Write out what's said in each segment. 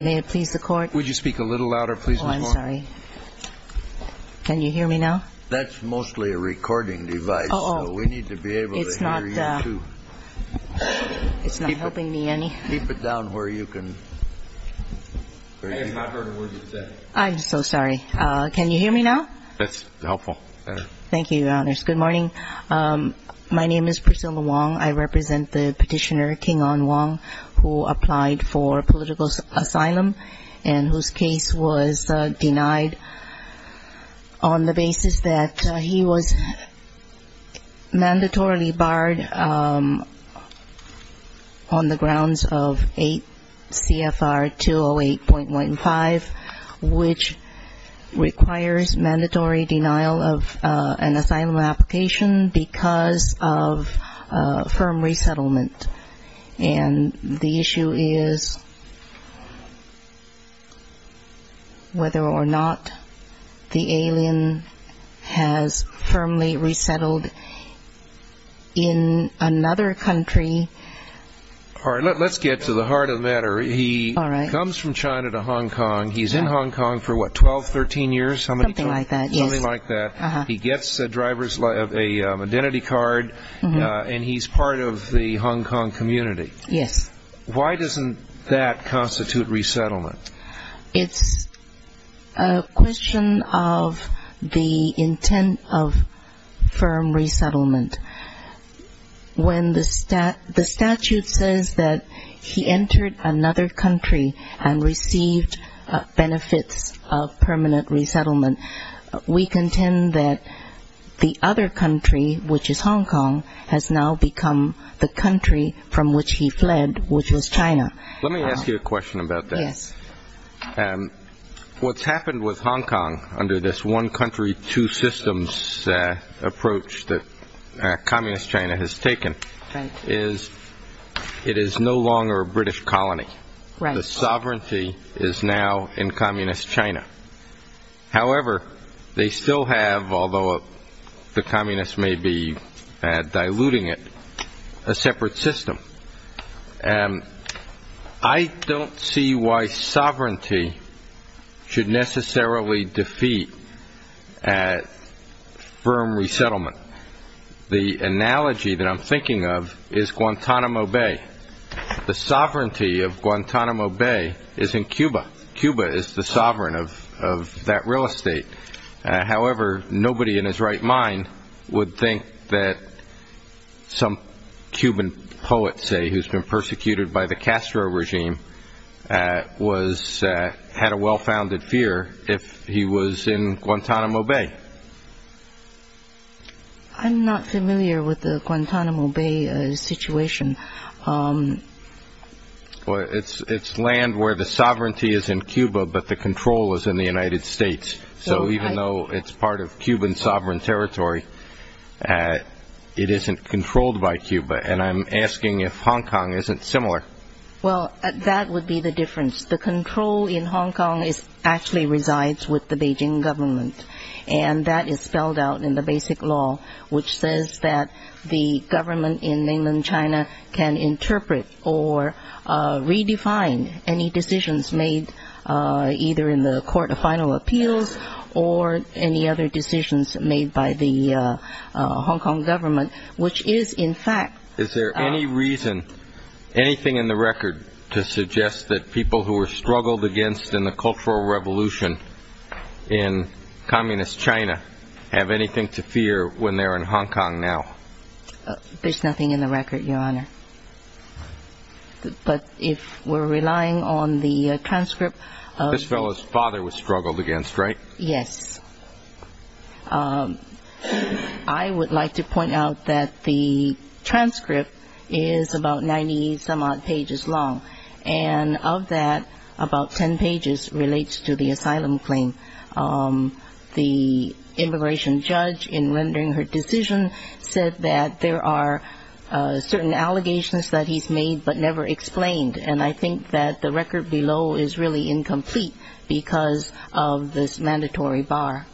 May it please the Court? Would you speak a little louder, please, Ms. Wong? Oh, I'm sorry. Can you hear me now? That's mostly a recording device, so we need to be able to hear you, too. It's not helping me any. Keep it down where you can. I have not heard a word you said. I'm so sorry. Can you hear me now? That's helpful. Thank you, Your Honors. Good morning. My name is Priscilla Wong. I represent the petitioner, King On Wong, who applied for political asylum and whose case was denied on the basis that he was mandatorily barred on the grounds of 8 CFR 208.15, which requires mandatory denial of an asylum application because of firm resettlement. And the issue is whether or not the alien has firmly resettled in another country. All right, let's get to the heart of the matter. He comes from China to Hong Kong. He's in Hong Kong for, what, 12, 13 years? Something like that, yes. Something like that. He gets a driver's license, an identity card, and he's part of the Hong Kong community. Yes. Why doesn't that constitute resettlement? It's a question of the intent of firm resettlement. When the statute says that he entered another country and received benefits of permanent resettlement, we contend that the other country, which is Hong Kong, has now become the country from which he fled, which was China. Let me ask you a question about that. What's happened with Hong Kong under this one country, two systems approach that Communist China has taken is it is no longer a British colony. The sovereignty is now in Communist China. However, they still have, although the Communists may be diluting it, a separate system. I don't see why sovereignty should necessarily defeat firm resettlement. The analogy that I'm thinking of is Guantanamo Bay. The sovereignty of Guantanamo Bay is in Cuba. Cuba is the sovereign of that real estate. However, nobody in his right mind would think that some Cuban poet, say, who's been persecuted by the Castro regime, had a well-founded fear if he was in Guantanamo Bay. I'm not familiar with the Guantanamo Bay situation. It's land where the sovereignty is in Cuba, but the control is in the United States. So even though it's part of Cuban sovereign territory, it isn't controlled by Cuba. And I'm asking if Hong Kong isn't similar. Well, that would be the difference. The control in Hong Kong actually resides with the Beijing government. And that is spelled out in the basic law, which says that the government in mainland China can interpret or redefine any decisions made either in the court of final appeals or any other decisions made by the Hong Kong government, which is in fact... Is there any reason, anything in the record, to suggest that people who were in Hong Kong now? There's nothing in the record, Your Honor. But if we're relying on the transcript... This fellow's father was struggled against, right? Yes. I would like to point out that the transcript is about 90-some-odd pages long. And of that, about 10 pages relates to the asylum claim. The immigration judge, in rendering her decision, said that there are certain allegations that he's made but never explained. And I think that the record below is really incomplete because of this mandatory bar.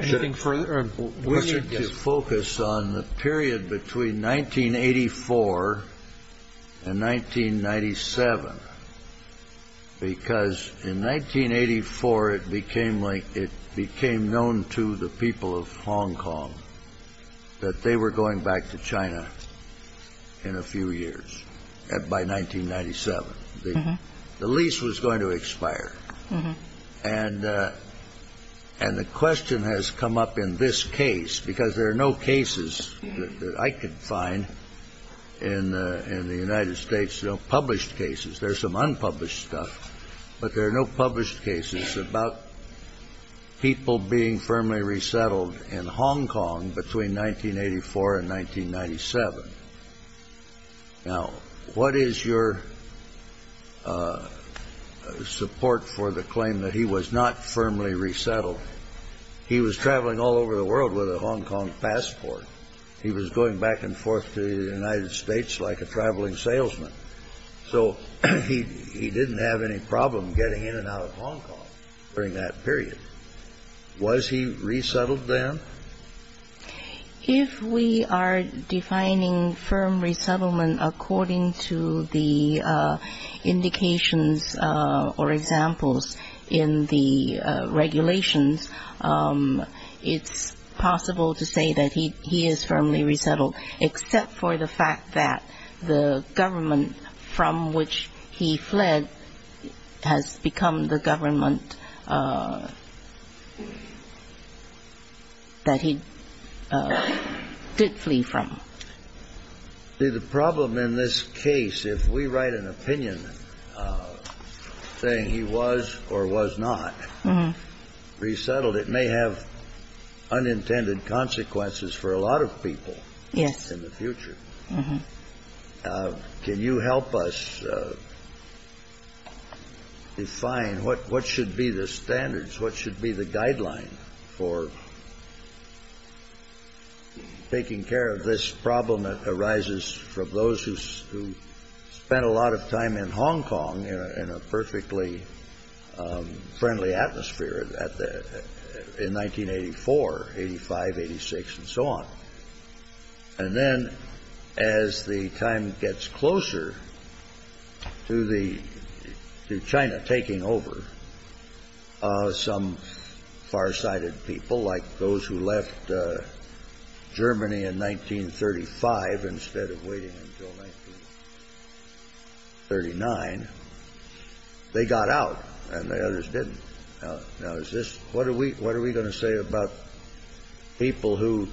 Anything for you? We need to focus on the period between 1984 and 1997. Because in 1984, it became like, it became known to the people of Hong Kong that they were going back to China in a few years, by 1997. The lease was going to expire. And the question has come up in this case, because there are no cases that I could find in the United States, no published cases. There's some unpublished stuff. But there are no published cases about people being firmly resettled. What is your support for the claim that he was not firmly resettled? He was traveling all over the world with a Hong Kong passport. He was going back and forth to the United States like a traveling salesman. So he didn't have any problem getting in and out of Hong Kong during that period. Was he resettled then? If we are defining firm resettlement according to the indications or examples in the regulations, it's possible to say that he is firmly resettled, except for the fact that the government from which he fled has become the case. If we write an opinion saying he was or was not resettled, it may have unintended consequences for a lot of people in the future. Can you help us define what should be the standards, what should be the guideline for taking care of this problem that arises from those who spent a lot of time in Hong Kong in a perfectly friendly atmosphere in 1984, 85, 86, and so on? And then as the time gets closer to China taking over, some farsighted people, like those who left Germany in 1935 instead of waiting until 1939, they got out and the others didn't. Now, what are we going to say about people who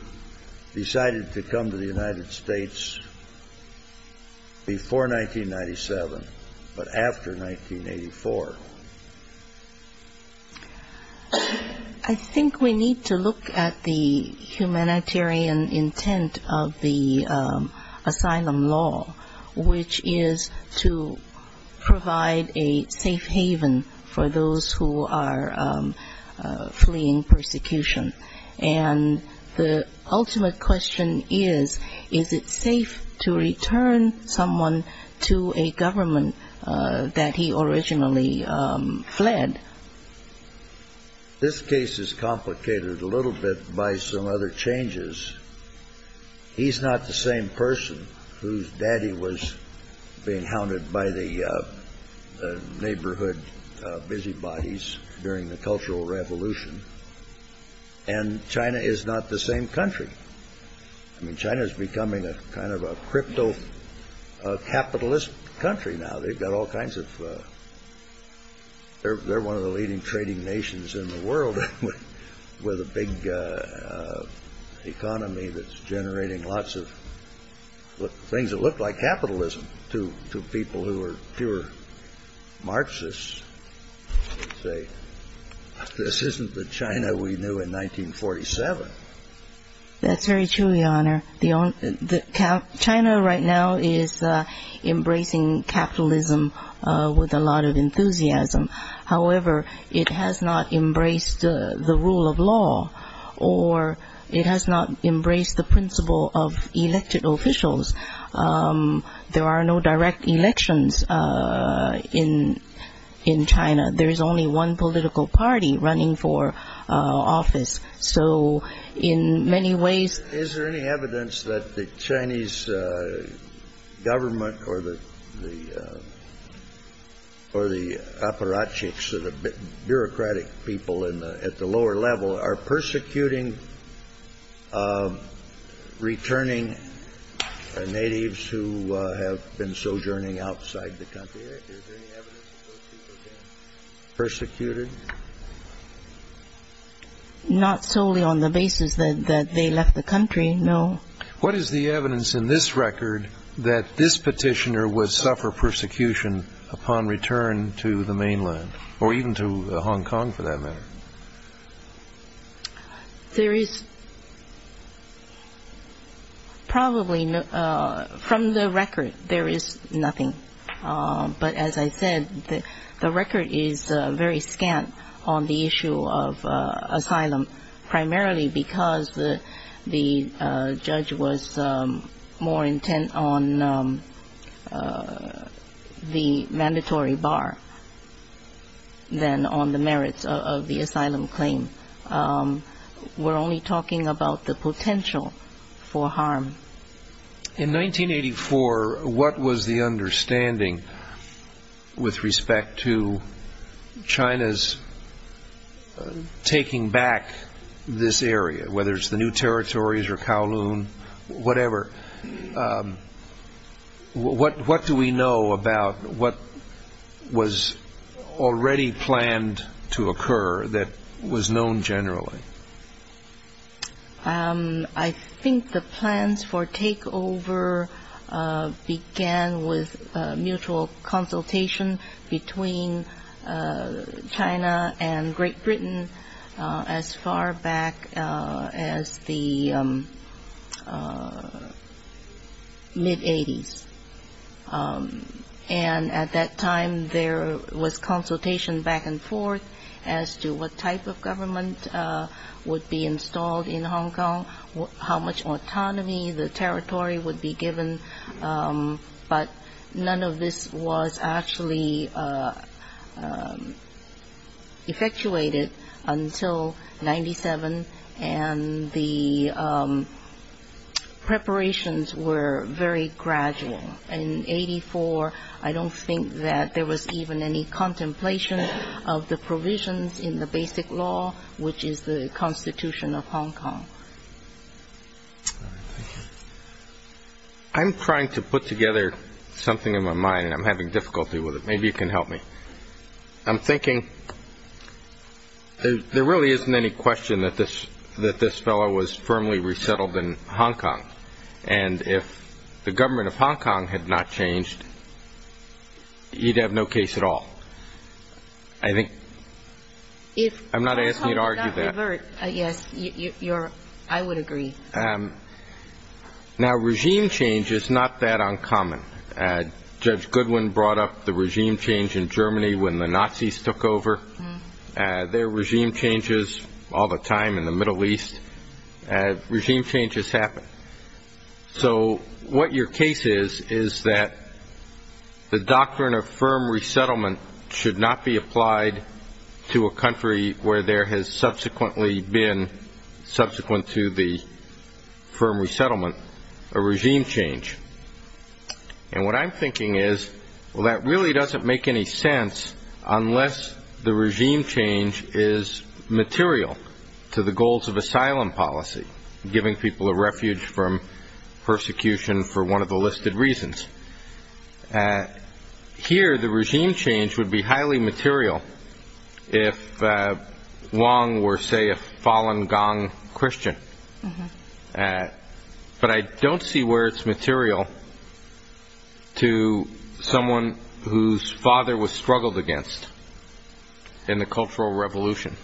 decided to come to the United States before 1997 but after 1984? I think we need to look at the humanitarian intent of the asylum law, which is to provide a the ultimate question is, is it safe to return someone to a government that he originally fled? This case is complicated a little bit by some other changes. He's not the same person whose daddy was being hounded by the neighborhood busybodies during the Cultural Revolution, and China is not the same country. I mean, China is becoming a kind of a crypto-capitalist country now. They've got all kinds of, they're one of the leading trading nations in the world with a big economy that's safe. This isn't the China we knew in 1947. That's very true, your honor. China right now is embracing capitalism with a lot of enthusiasm. However, it has not embraced the rule of law, or it has not embraced the principle of elected officials. There are no direct elections in China. There is only one political party running for office, so in many ways... Is there any evidence that the Chinese government or the aparatchiks, the bureaucratic people at the lower level, are persecuting returning natives who have been sojourning outside the country? Persecuted? Not solely on the basis that they left the country, no. What is the evidence in this record that this petitioner would suffer persecution upon return to the mainland, or even to Hong Kong for that matter? There is probably, from the record, there is nothing. But as I said, the record is very scant on the issue of asylum, primarily because the judge was more intent on the mandatory bar than on the merits of the asylum claim. We're only talking about the potential for harm. In 1984, what was the understanding with respect to China's taking back this area, whether it's the New Territories or Kowloon, whatever? What do we know about what was already planned to occur that was known generally? I think the plans for takeover began with mutual consultation between China and Great Britain as far back as the mid-80s. And at that time, there was consultation back and forth as to what type of government would be installed in Hong Kong, how much autonomy the territory would be given. But none of this was actually effectuated until 1997, and the preparations were very gradual. In 1984, I don't think that there was even any contemplation of the provisions in the basic law, which is the constitution of Hong Kong. I'm trying to put together something in my mind, and I'm having difficulty with it. Maybe you can help me. I'm thinking, there really isn't any question that this fellow was firmly resettled in Hong Kong. And if the government of Hong Kong had not changed, you'd have no case at all. I'm not asking you to argue that. Yes, I would agree. Now, regime change is not that uncommon. Judge Goodwin brought up the regime change in Germany when the Nazis took over. There are regime changes all the time in the Middle East. Regime changes happen. So what your case is, is that the doctrine of firm resettlement should not be applied to a country where there has subsequently been, subsequent to the firm resettlement, a regime change. And what I'm thinking is, well, that really doesn't make any unless the regime change is material to the goals of asylum policy, giving people a refuge from persecution for one of the listed reasons. Here, the regime change would be highly material if Wong were, say, a fallen Gong Christian. But I don't see where it's material to someone whose father was struggled against in the Cultural Revolution.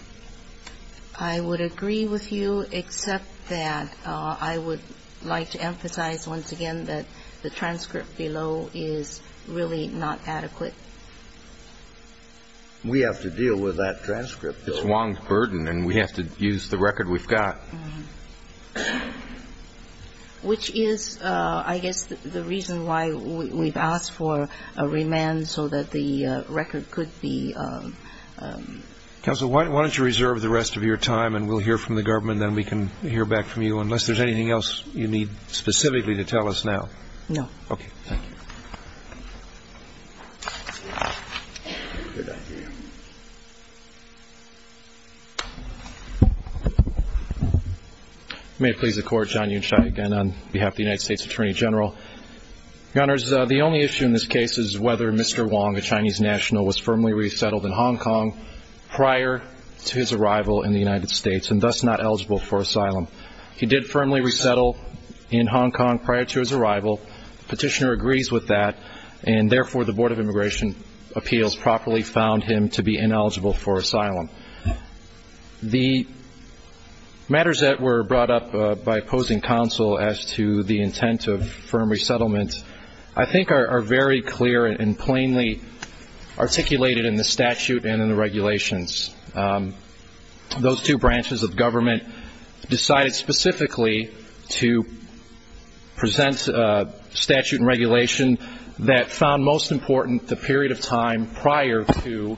I would agree with you, except that I would like to emphasize once again that the transcript below is really not adequate. We have to deal with that transcript. It's Wong's burden and we have to use the record we've got. Which is, I guess, the reason why we've asked for a remand so that the record could be... Counsel, why don't you reserve the rest of your time and we'll hear from the government, then we can hear back from you, unless there's anything else you need specifically to tell us now. No. Okay, thank you. May it please the Court, John Yunshai again on behalf of the United States Attorney General. Your Honors, the only issue in this case is whether Mr. Wong, a Chinese national, was firmly resettled in Hong Kong prior to his arrival in the United States and thus not eligible for asylum. He did firmly resettle in Hong Kong prior to his arrival. Petitioner agrees with that and therefore the Board of Immigration Appeals properly found him to be ineligible for asylum. The matters that were brought up by opposing counsel as to the intent of firm resettlement, I think, are very clear and plainly articulated in the statute and in the regulations. Those two branches of government decided specifically to present a statute and regulation that found most important the period of time prior to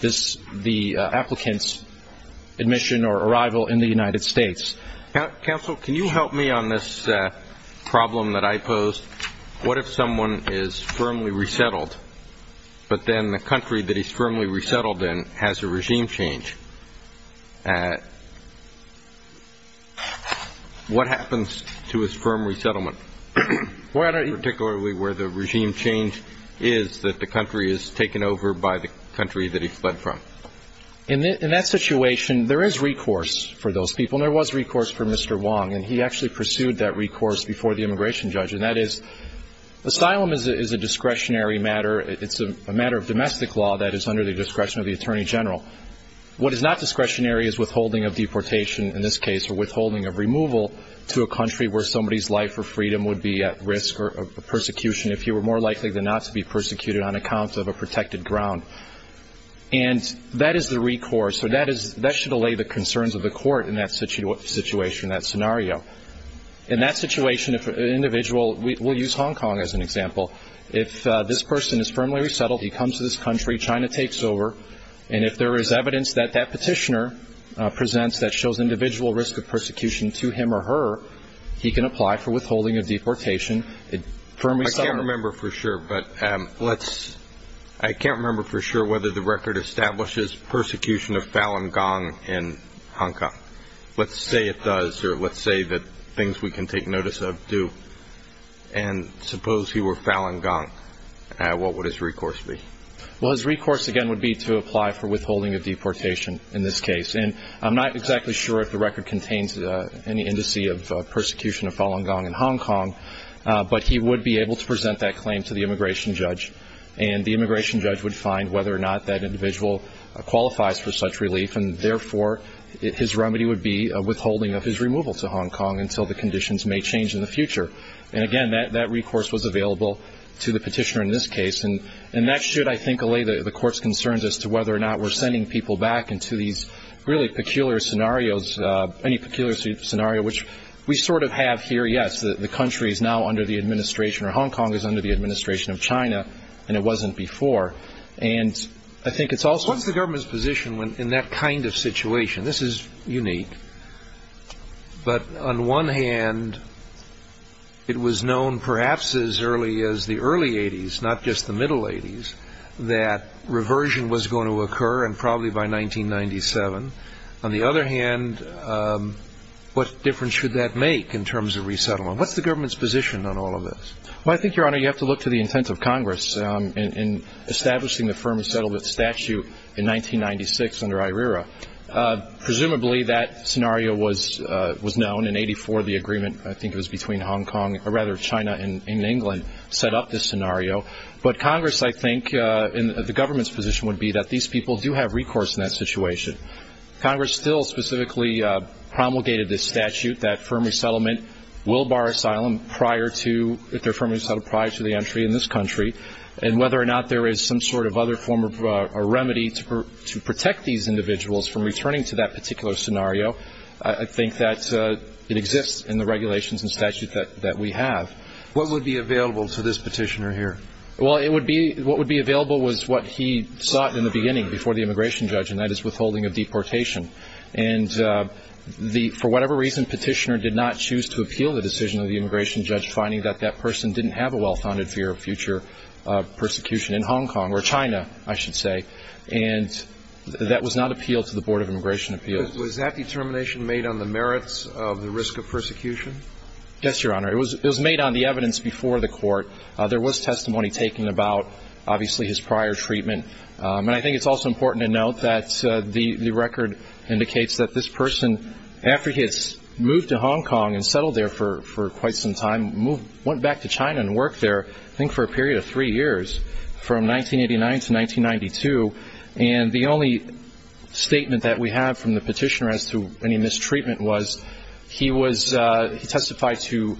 the applicant's admission or arrival in the United States. Counsel, can you help me on this problem that I posed? What if someone is firmly resettled but then the country that he's firmly resettled in has a regime change? What happens to his firm resettlement, particularly where the regime change is that the country is taken over by the country that he fled from? In that situation, there is recourse for those people and there was recourse for Mr. Wong and he actually pursued that recourse before the immigration judge and that is asylum is a discretionary matter. It's a matter of domestic law that is under the discretion of the Attorney General. What is not discretionary is withholding of deportation in this case or withholding of removal to a country where somebody's life or freedom would be at risk of persecution if you were more likely than not to be persecuted on account of a protected ground. That is the recourse so that should allay the concerns of the court in that situation, that scenario. In that situation, we'll use Hong Kong as an example. If this person is firmly resettled, he comes to this country, China takes over and if there is evidence that that petitioner presents that shows individual risk of persecution to him or her, he can apply for withholding of deportation. I can't remember for sure whether the record establishes persecution of Falun Gong in Hong Kong. Let's say it does or let's say that things we can take notice of do and suppose he were Falun Gong, what would his recourse be? His recourse again would be to apply for withholding of deportation in this case. I'm not exactly sure if the record contains any indice of persecution of Falun Gong in Hong Kong but he would be able to present that claim to the immigration judge. The immigration judge would find whether or not that individual qualifies for such relief and therefore his remedy would be withholding of his removal to Hong Kong until the conditions may in the future. That recourse was available to the petitioner in this case. That should allay the court's concerns as to whether or not we're sending people back into these really peculiar scenarios. Any peculiar scenario which we sort of have here, yes, the country is now under the administration or Hong Kong is under the administration of China and it wasn't before. What's the government's position in that kind of situation? This is unique. But on one hand, it was known perhaps as early as the early 80s, not just the middle 80s, that reversion was going to occur and probably by 1997. On the other hand, what difference should that make in terms of resettlement? What's the government's position on all of this? Well, I think, your honor, you have to look to the intent of Congress in establishing the scenario. That scenario was known in 84, the agreement, I think it was between Hong Kong, or rather China and England, set up this scenario. But Congress, I think, and the government's position would be that these people do have recourse in that situation. Congress still specifically promulgated this statute that firm resettlement will bar asylum prior to, if they're firmly resettled, prior to the entry in this country. And whether or not there is some sort of other form of remedy to protect these individuals from returning to that particular scenario, I think that it exists in the regulations and statute that we have. What would be available to this petitioner here? Well, what would be available was what he sought in the beginning before the immigration judge, and that is withholding of deportation. And for whatever reason, petitioner did not choose to appeal the decision of the immigration judge, finding that that person didn't have a well-founded fear of future persecution in Hong Kong or China, I should say. And that was not appealed to the immigration appeals. Was that determination made on the merits of the risk of persecution? Yes, Your Honor. It was made on the evidence before the court. There was testimony taken about, obviously, his prior treatment. And I think it's also important to note that the record indicates that this person, after he has moved to Hong Kong and settled there for quite some time, went back to China and worked there, I think for a period of three years, from 1989 to 1992. And the only statement that we have from the petitioner as to any mistreatment was he testified to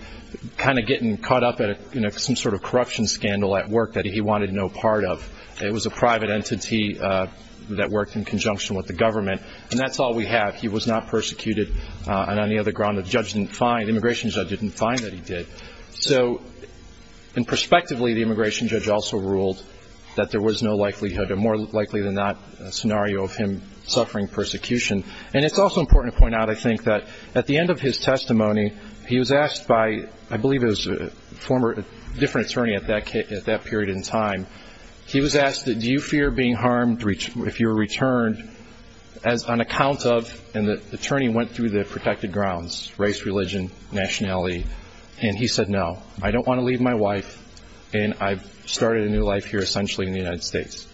kind of getting caught up in some sort of corruption scandal at work that he wanted no part of. It was a private entity that worked in conjunction with the government. And that's all we have. He was not persecuted on any other ground. The immigration judge didn't find that he ruled that there was no likelihood, or more likely than not, a scenario of him suffering persecution. And it's also important to point out, I think, that at the end of his testimony, he was asked by, I believe it was a different attorney at that period in time, he was asked, do you fear being harmed if you were returned on account of, and the attorney went through the protected grounds, race, religion, nationality. And he said, no, I don't want to leave my wife. And I've started a new life here, essentially, in the United States.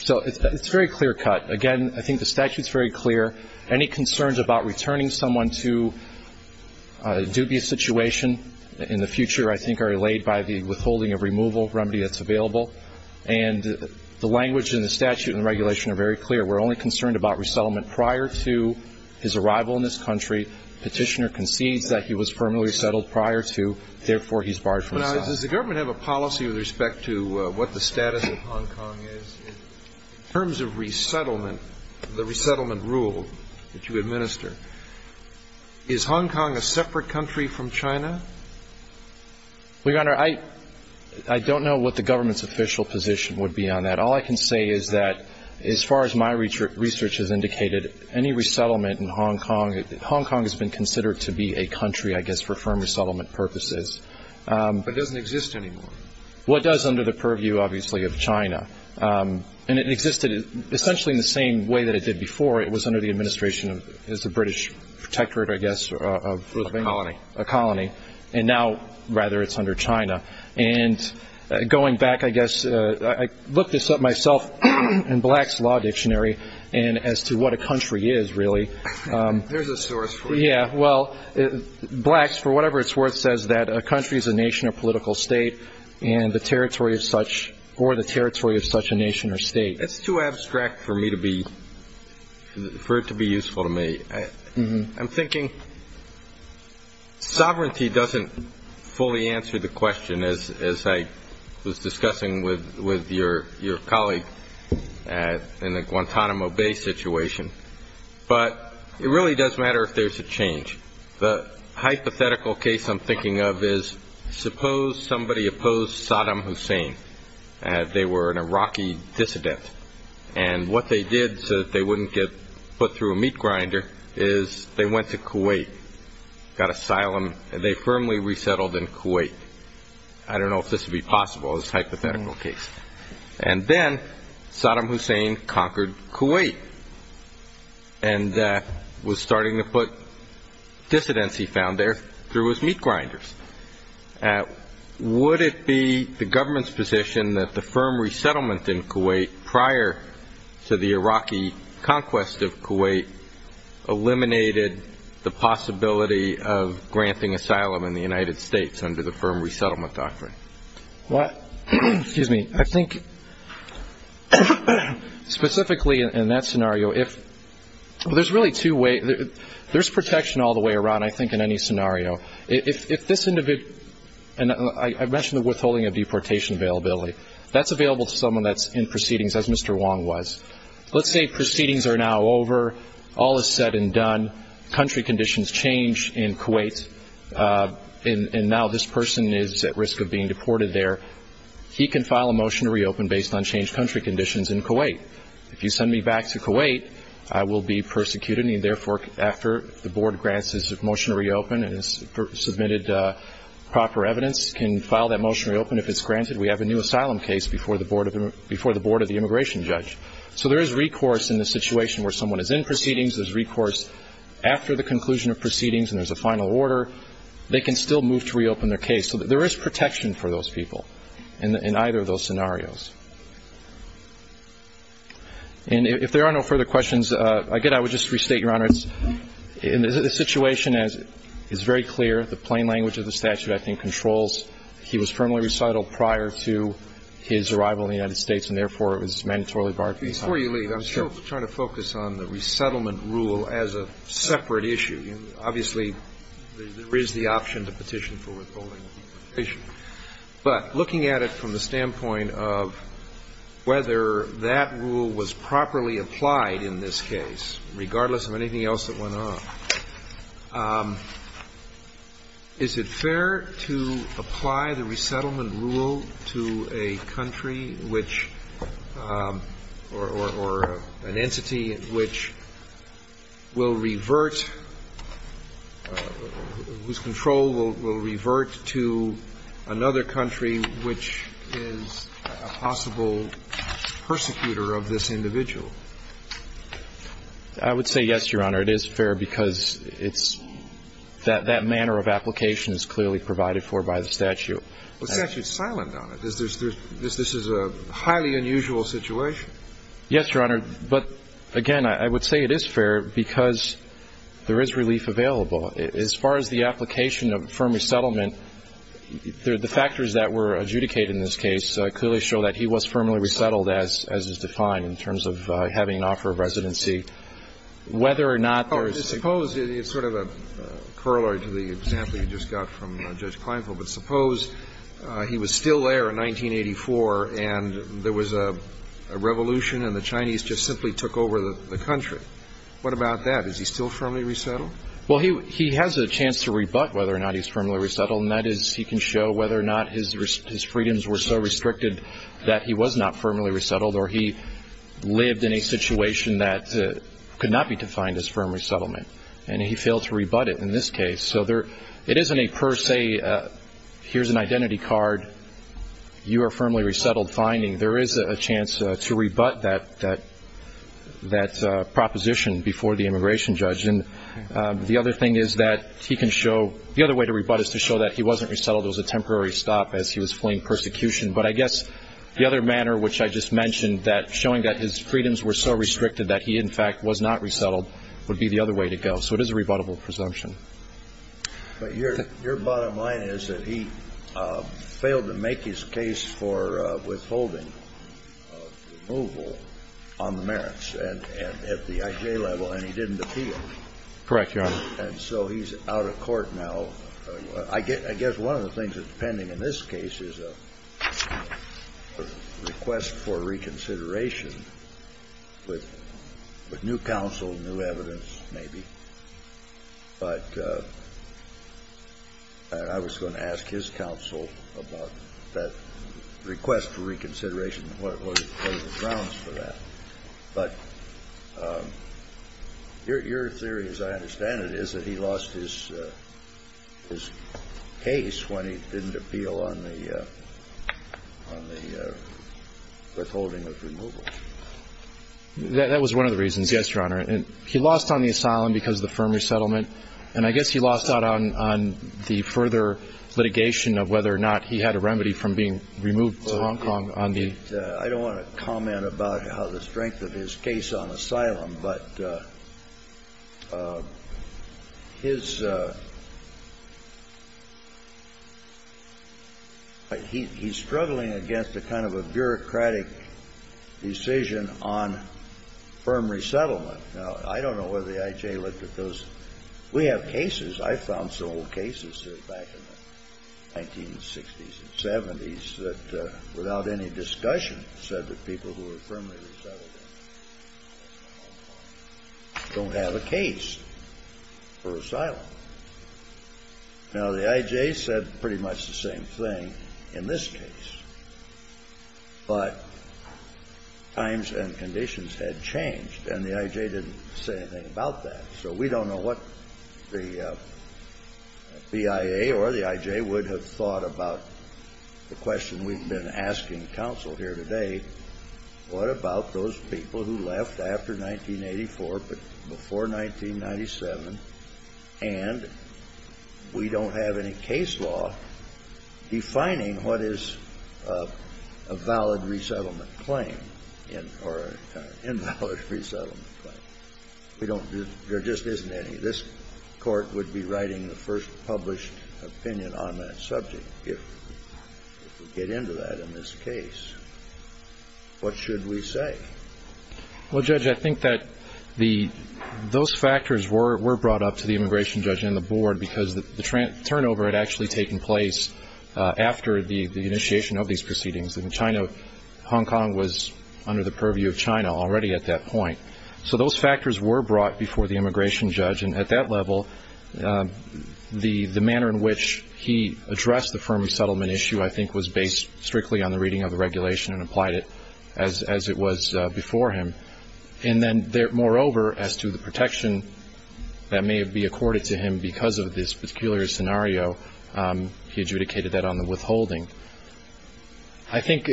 So it's a very clear cut. Again, I think the statute's very clear. Any concerns about returning someone to a dubious situation in the future, I think, are allayed by the withholding of removal remedy that's available. And the language in the statute and regulation are very clear. We're only concerned about resettlement prior to his arrival in this country. Petitioner concedes that he was permanently resettled prior to, therefore, he's barred from asylum. Now, does the government have a policy with respect to what the status of Hong Kong is? In terms of resettlement, the resettlement rule that you administer, is Hong Kong a separate country from China? Well, Your Honor, I don't know what the government's official position would be on that. All I can say is that, as far as my research has indicated, any resettlement in Hong Kong, Hong Kong has been considered to be a country, I guess, for firm resettlement purposes. But it doesn't exist anymore. Well, it does under the purview, obviously, of China. And it existed essentially in the same way that it did before. It was under the administration as a British protectorate, I guess, of a colony. And now, rather, it's under China. And going back, I guess, I looked this up myself in Black's Law Dictionary as to what a country is, really. There's a source for it. Yeah, well, Black's, for whatever it's worth, says that a country is a nation, a political state, or the territory of such a nation or state. It's too abstract for it to be useful to me. I'm thinking sovereignty doesn't fully answer the question, as I was discussing with your colleague in the Guantanamo Bay situation. But it really does matter if there's a change. The hypothetical case I'm thinking of is, suppose somebody opposed Saddam Hussein, and they were an Iraqi dissident. And what they did, so that they wouldn't get put through a meat grinder, is they went to Kuwait, got asylum, and they firmly resettled in Kuwait. I don't know if this would be possible as a hypothetical case. And then Saddam Hussein conquered Kuwait and was starting to put dissidents he found there through his meat grinders. Would it be the government's position that the firm resettlement in Kuwait, prior to the Iraqi conquest of Kuwait, eliminated the possibility of granting asylum in the United States under the firm resettlement doctrine? Excuse me. I think, specifically in that scenario, there's protection all the way around, I think, in any scenario. If this individual, and I mentioned the withholding of deportation availability, that's available to someone that's in proceedings, as Mr. Wong was. Let's say proceedings are now over, all is said and done, country conditions change in Kuwait, and now this person is at risk of being deported there. He can file a motion to reopen based on changed country conditions in Kuwait. If you send me back to Kuwait, I will be persecuted, and therefore, after the board grants his motion to reopen and has submitted proper evidence, can file that motion to reopen if it's granted. We have a new asylum case before the board of the immigration judge. So there is recourse in the situation where someone is in proceedings, there's recourse after the conclusion of proceedings and there's a final order. They can still move to reopen their case. So there is protection for those people in either of those scenarios. And if there are no further questions, again, I would just restate, Your Honor, the situation is very clear. The plain language of the statute, I think, controls. He was firmly resettled prior to his arrival in the United States, and therefore, it was mandatorily barred from being held. Before you leave, I'm still trying to focus on the option to petition for withholding. But looking at it from the standpoint of whether that rule was properly applied in this case, regardless of anything else that went on, is it fair to apply the resettlement rule to a country which or an entity which will revert to another country which is a possible persecutor of this individual? I would say yes, Your Honor. It is fair because that manner of application is clearly provided for by the statute. The statute is silent on it. This is a highly unusual situation. Yes, Your Honor. But again, I would say it is fair because there is relief available. As far as the application of firm resettlement, the factors that were adjudicated in this case clearly show that he was firmly resettled, as is defined, in terms of having an offer of residency. Whether or not there is... Suppose, it's sort of a corollary to the example you just got from Judge Kleinfeld, but suppose he was still there in 1984, and there was a revolution, and the Chinese just simply took over the country. What about that? Is he still firmly resettled? Well, he has a chance to rebut whether or not he's firmly resettled, and that is he can show whether or not his freedoms were so restricted that he was not firmly resettled, or he lived in a situation that could not be defined as firm resettlement, and he failed to rebut it in this case. So it isn't a per se, here's an identity card, you are firmly resettled finding. There is a chance to rebut that proposition before the immigration judge, and the other thing is that he can show... The other way to rebut is to show that he wasn't resettled, it was a temporary stop as he was fleeing persecution, but I guess the other manner, which I just mentioned, that showing that his freedoms were so restricted that he, in fact, was not resettled, would be the other way to go. So it is a rebuttable presumption. But your bottom line is that he failed to make his case for withholding of removal on the merits at the I.J. level, and he didn't appeal. Correct, Your Honor. And so he's out of court now. I guess one of the things that's pending in this case is a request for reconsideration with new counsel, new evidence, maybe. But I was going to ask his counsel about that request for reconsideration, what are the grounds for that. But your theory, as I understand it, is that he lost his case when he didn't appeal on the withholding of removal. That was one of the reasons, yes, Your Honor. He lost on the asylum because of the firm He had a remedy from being removed to Hong Kong on the asylum. I don't want to comment about how the strength of his case on asylum, but his he's struggling against a kind of a bureaucratic decision on firm resettlement. Now, I don't know whether the I.J. looked at those. We have cases. I found some old cases back in the 1960s and 70s that, without any discussion, said that people who were firmly resettled don't have a case for asylum. Now, the I.J. said pretty much the same thing in this case, but times and conditions had changed, and the I.J. didn't say anything about that. So we don't know what the BIA or the I.J. would have thought about the question we've been asking counsel here today, what about those people who left after 1984, but before 1997, and we don't have any case law defining what is a valid resettlement claim or an invalid resettlement claim. We don't. There just isn't any. This Court would be writing the first published opinion on that subject if we get into that in this case. What should we say? Well, Judge, I think that those factors were brought up to the immigration judge and the board because the turnover had actually taken place after the initiation of these proceedings in China. Hong Kong was under the purview of China already at that point. So those factors were brought before the immigration judge, and at that level, the manner in which he addressed the firm settlement issue, I think, was based strictly on the reading of the regulation and applied it as it was before him. And then, moreover, as to the protection that may have been accorded to him because of this scenario, he adjudicated that on the withholding. I think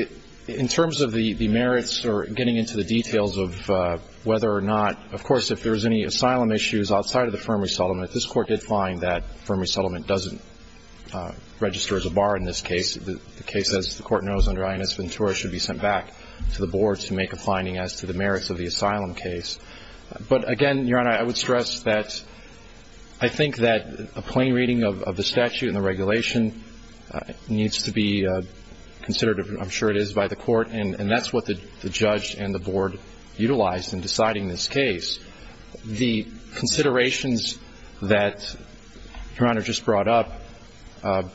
in terms of the merits or getting into the details of whether or not, of course, if there was any asylum issues outside of the firm resettlement, this Court did find that firm resettlement doesn't register as a bar in this case. The case, as the Court knows under Inez Ventura, should be sent back to the board to make a finding as to the merits of the asylum case. But again, Your Honor, I would stress that I think that a plain reading of the statute and the regulation needs to be considered, I'm sure it is, by the Court. And that's what the judge and the board utilized in deciding this case. The considerations that Your Honor just brought up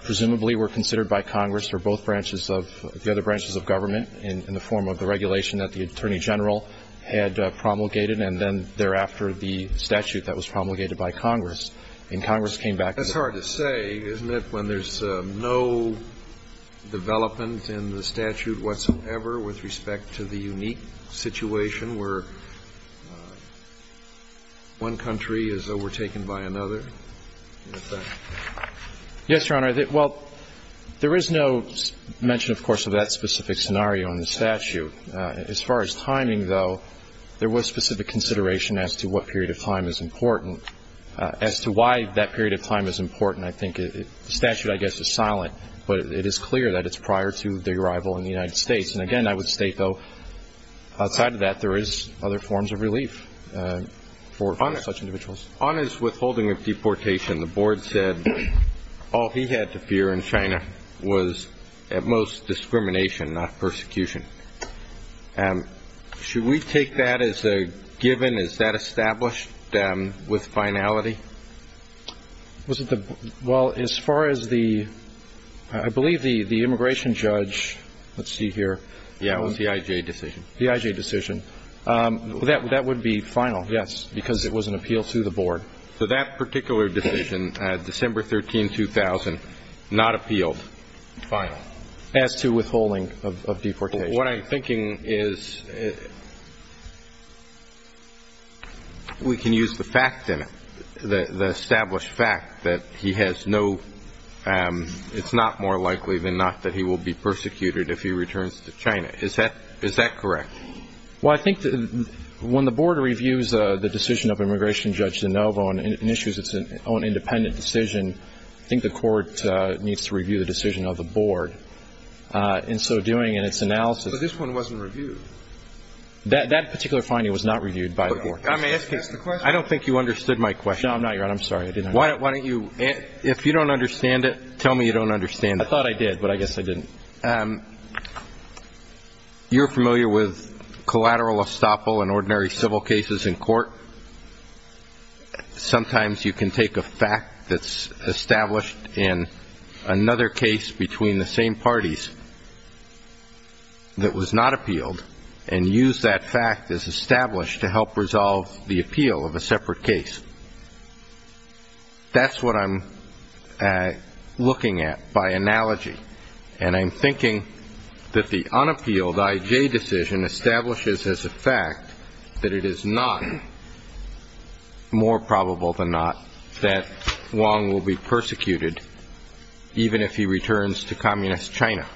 presumably were considered by Congress or both branches of the other branches of government in the form of the regulation that promulgated and then thereafter the statute that was promulgated by Congress. And Congress came back to the board. That's hard to say, isn't it, when there's no development in the statute whatsoever with respect to the unique situation where one country is overtaken by another? Yes, Your Honor. Well, there is no mention, of course, of that specific scenario in the statute. As far as timing, though, there was specific consideration as to what period of time is important. As to why that period of time is important, I think the statute, I guess, is silent. But it is clear that it's prior to the arrival in the United States. And again, I would state, though, outside of that, there is other forms of relief for such individuals. On his withholding of deportation, the board said all he had to fear in China was, at most, discrimination, not persecution. Should we take that as a given? Is that established with finality? Well, as far as the, I believe, the immigration judge, let's see here. Yeah, it was the IJ decision. The IJ decision. That would be final, yes, because it was an appeal to the board. So that particular decision, December 13, 2000, not appealed, final. As to withholding of deportation. What I'm thinking is, we can use the fact in it, the established fact that he has no, it's not more likely than not that he will be persecuted if he returns to China. Is that correct? Well, I think that when the board reviews the decision of immigration judge DeNovo and issues its own independent decision, I think the court needs to review the decision of the board. In so doing, in its analysis. But this one wasn't reviewed. That particular finding was not reviewed by the board. May I ask a question? I don't think you understood my question. No, I'm not, Your Honor. I'm sorry. I didn't. Why don't you, if you don't understand it, tell me you don't understand it. I thought I did, but I guess I didn't. You're familiar with collateral estoppel in ordinary civil cases in court. Sometimes you can take a fact that's established in another case between the same parties that was not appealed and use that fact as established to help resolve the appeal of a case. I'm thinking that the unappealed I.J. decision establishes as a fact that it is not more probable than not that Wong will be persecuted even if he returns to communist China.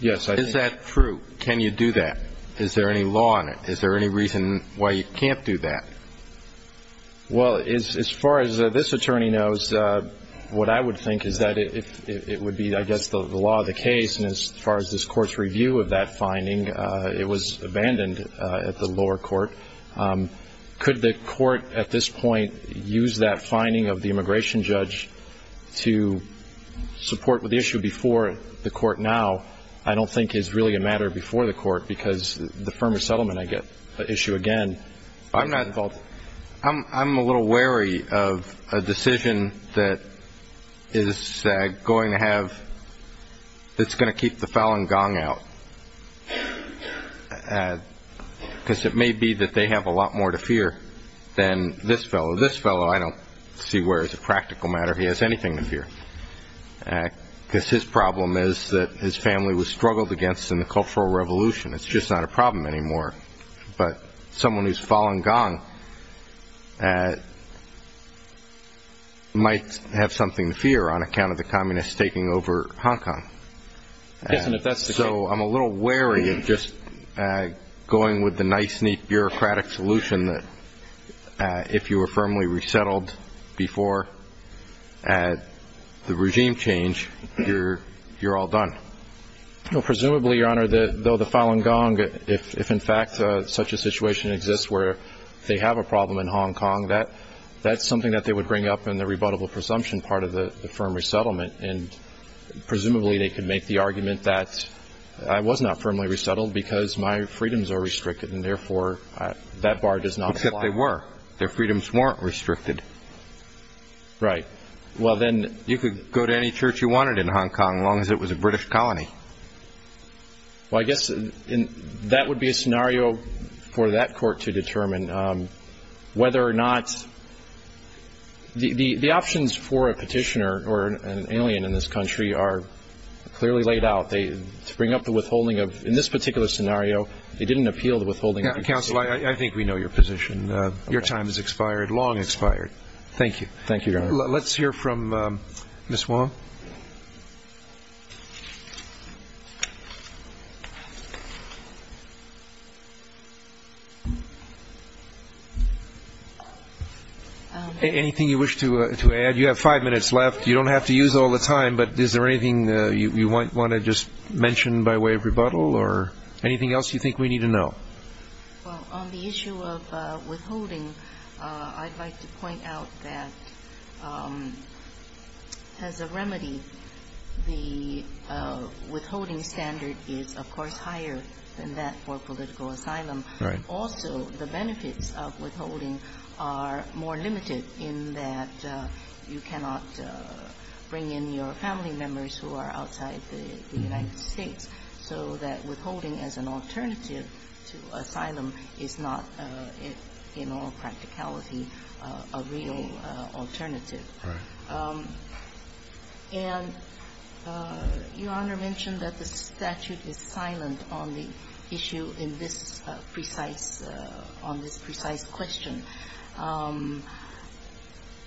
Yes, I think. Is that true? Can you do that? Is there any law in it? Is there any reason why you can't do that? Well, as far as this attorney knows, what I would think is that it would be, I guess, the law of the case. And as far as this court's review of that finding, it was abandoned at the lower court. Could the court at this point use that finding of the immigration judge to support with the issue before the court now? I don't think it's really a matter before the court because the firmer settlement, I get the issue again. I'm a little wary of a decision that is going to keep the Falun Gong out because it may be that they have a lot more to fear than this fellow. This fellow, I don't see where as a practical matter he has anything to fear because his problem is that his family was struggled against in the Cultural Revolution. It's just not a problem anymore. But someone who's Falun Gong might have something to fear on account of the Communists taking over Hong Kong. So I'm a little wary of just going with the nice, neat, bureaucratic solution that if you were firmly resettled before the regime change, you're all done. Presumably, Your Honor, though the Falun Gong, if in fact such a situation exists where they have a problem in Hong Kong, that's something that they would bring up in the rebuttable presumption part of the firm resettlement. And presumably they could make the argument that I was not firmly resettled because my freedoms are restricted and therefore that bar does not apply. Except they were. Their freedoms weren't restricted. Right. Well, then you could go to any church you wanted in Hong Kong, long as it was a British colony. Well, I guess that would be a scenario for that court to determine whether or not the options for a petitioner or an alien in this country are clearly laid out. They bring up the withholding of, in this particular scenario, they didn't appeal the withholding. Counsel, I think we know your position. Your time has expired, long expired. Thank you. Thank you, Your Honor. Let's hear from Ms. Wong. Anything you wish to add? You have five minutes left. You don't have to use all the time, but is there anything you want to just mention by way of rebuttal or anything else you think we need to know? Well, on the issue of withholding, I'd like to point out that as a remedy, the withholding standard is, of course, higher than that for political asylum. Right. Also, the benefits of withholding are more limited in that you cannot bring in your family members who are outside the United States, so that withholding as an alternative to asylum is not, in all practicality, a real alternative. Right. And Your Honor mentioned that the statute is silent on the issue in this precise on this precise question.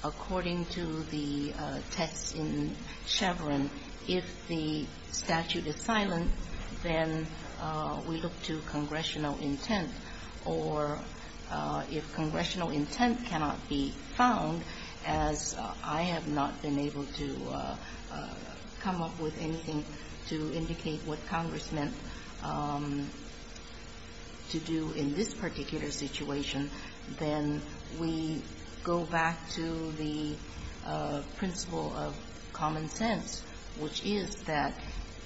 According to the text in Chevron, if the statute is silent, then we look to congressional intent. Or if congressional intent cannot be found, as I have not been able to come up with anything to indicate what Congress meant to do in this particular situation, then we go back to the principle of common sense, which is that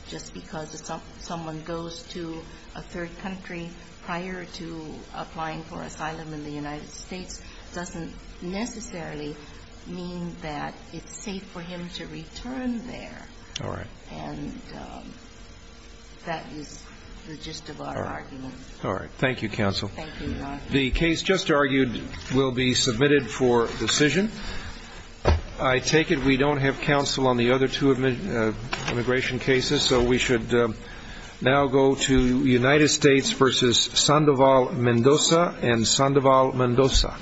just because someone goes to a third country prior to applying for asylum in the United States doesn't necessarily mean that it's safe for him to return there. All right. And that is the gist of our argument. All right. Thank you, counsel. Thank you, Your Honor. The case just argued will be submitted for decision. I take it we don't have counsel on the other two immigration cases, so we should now go to United States v. Sandoval Mendoza and Sandoval Mendoza.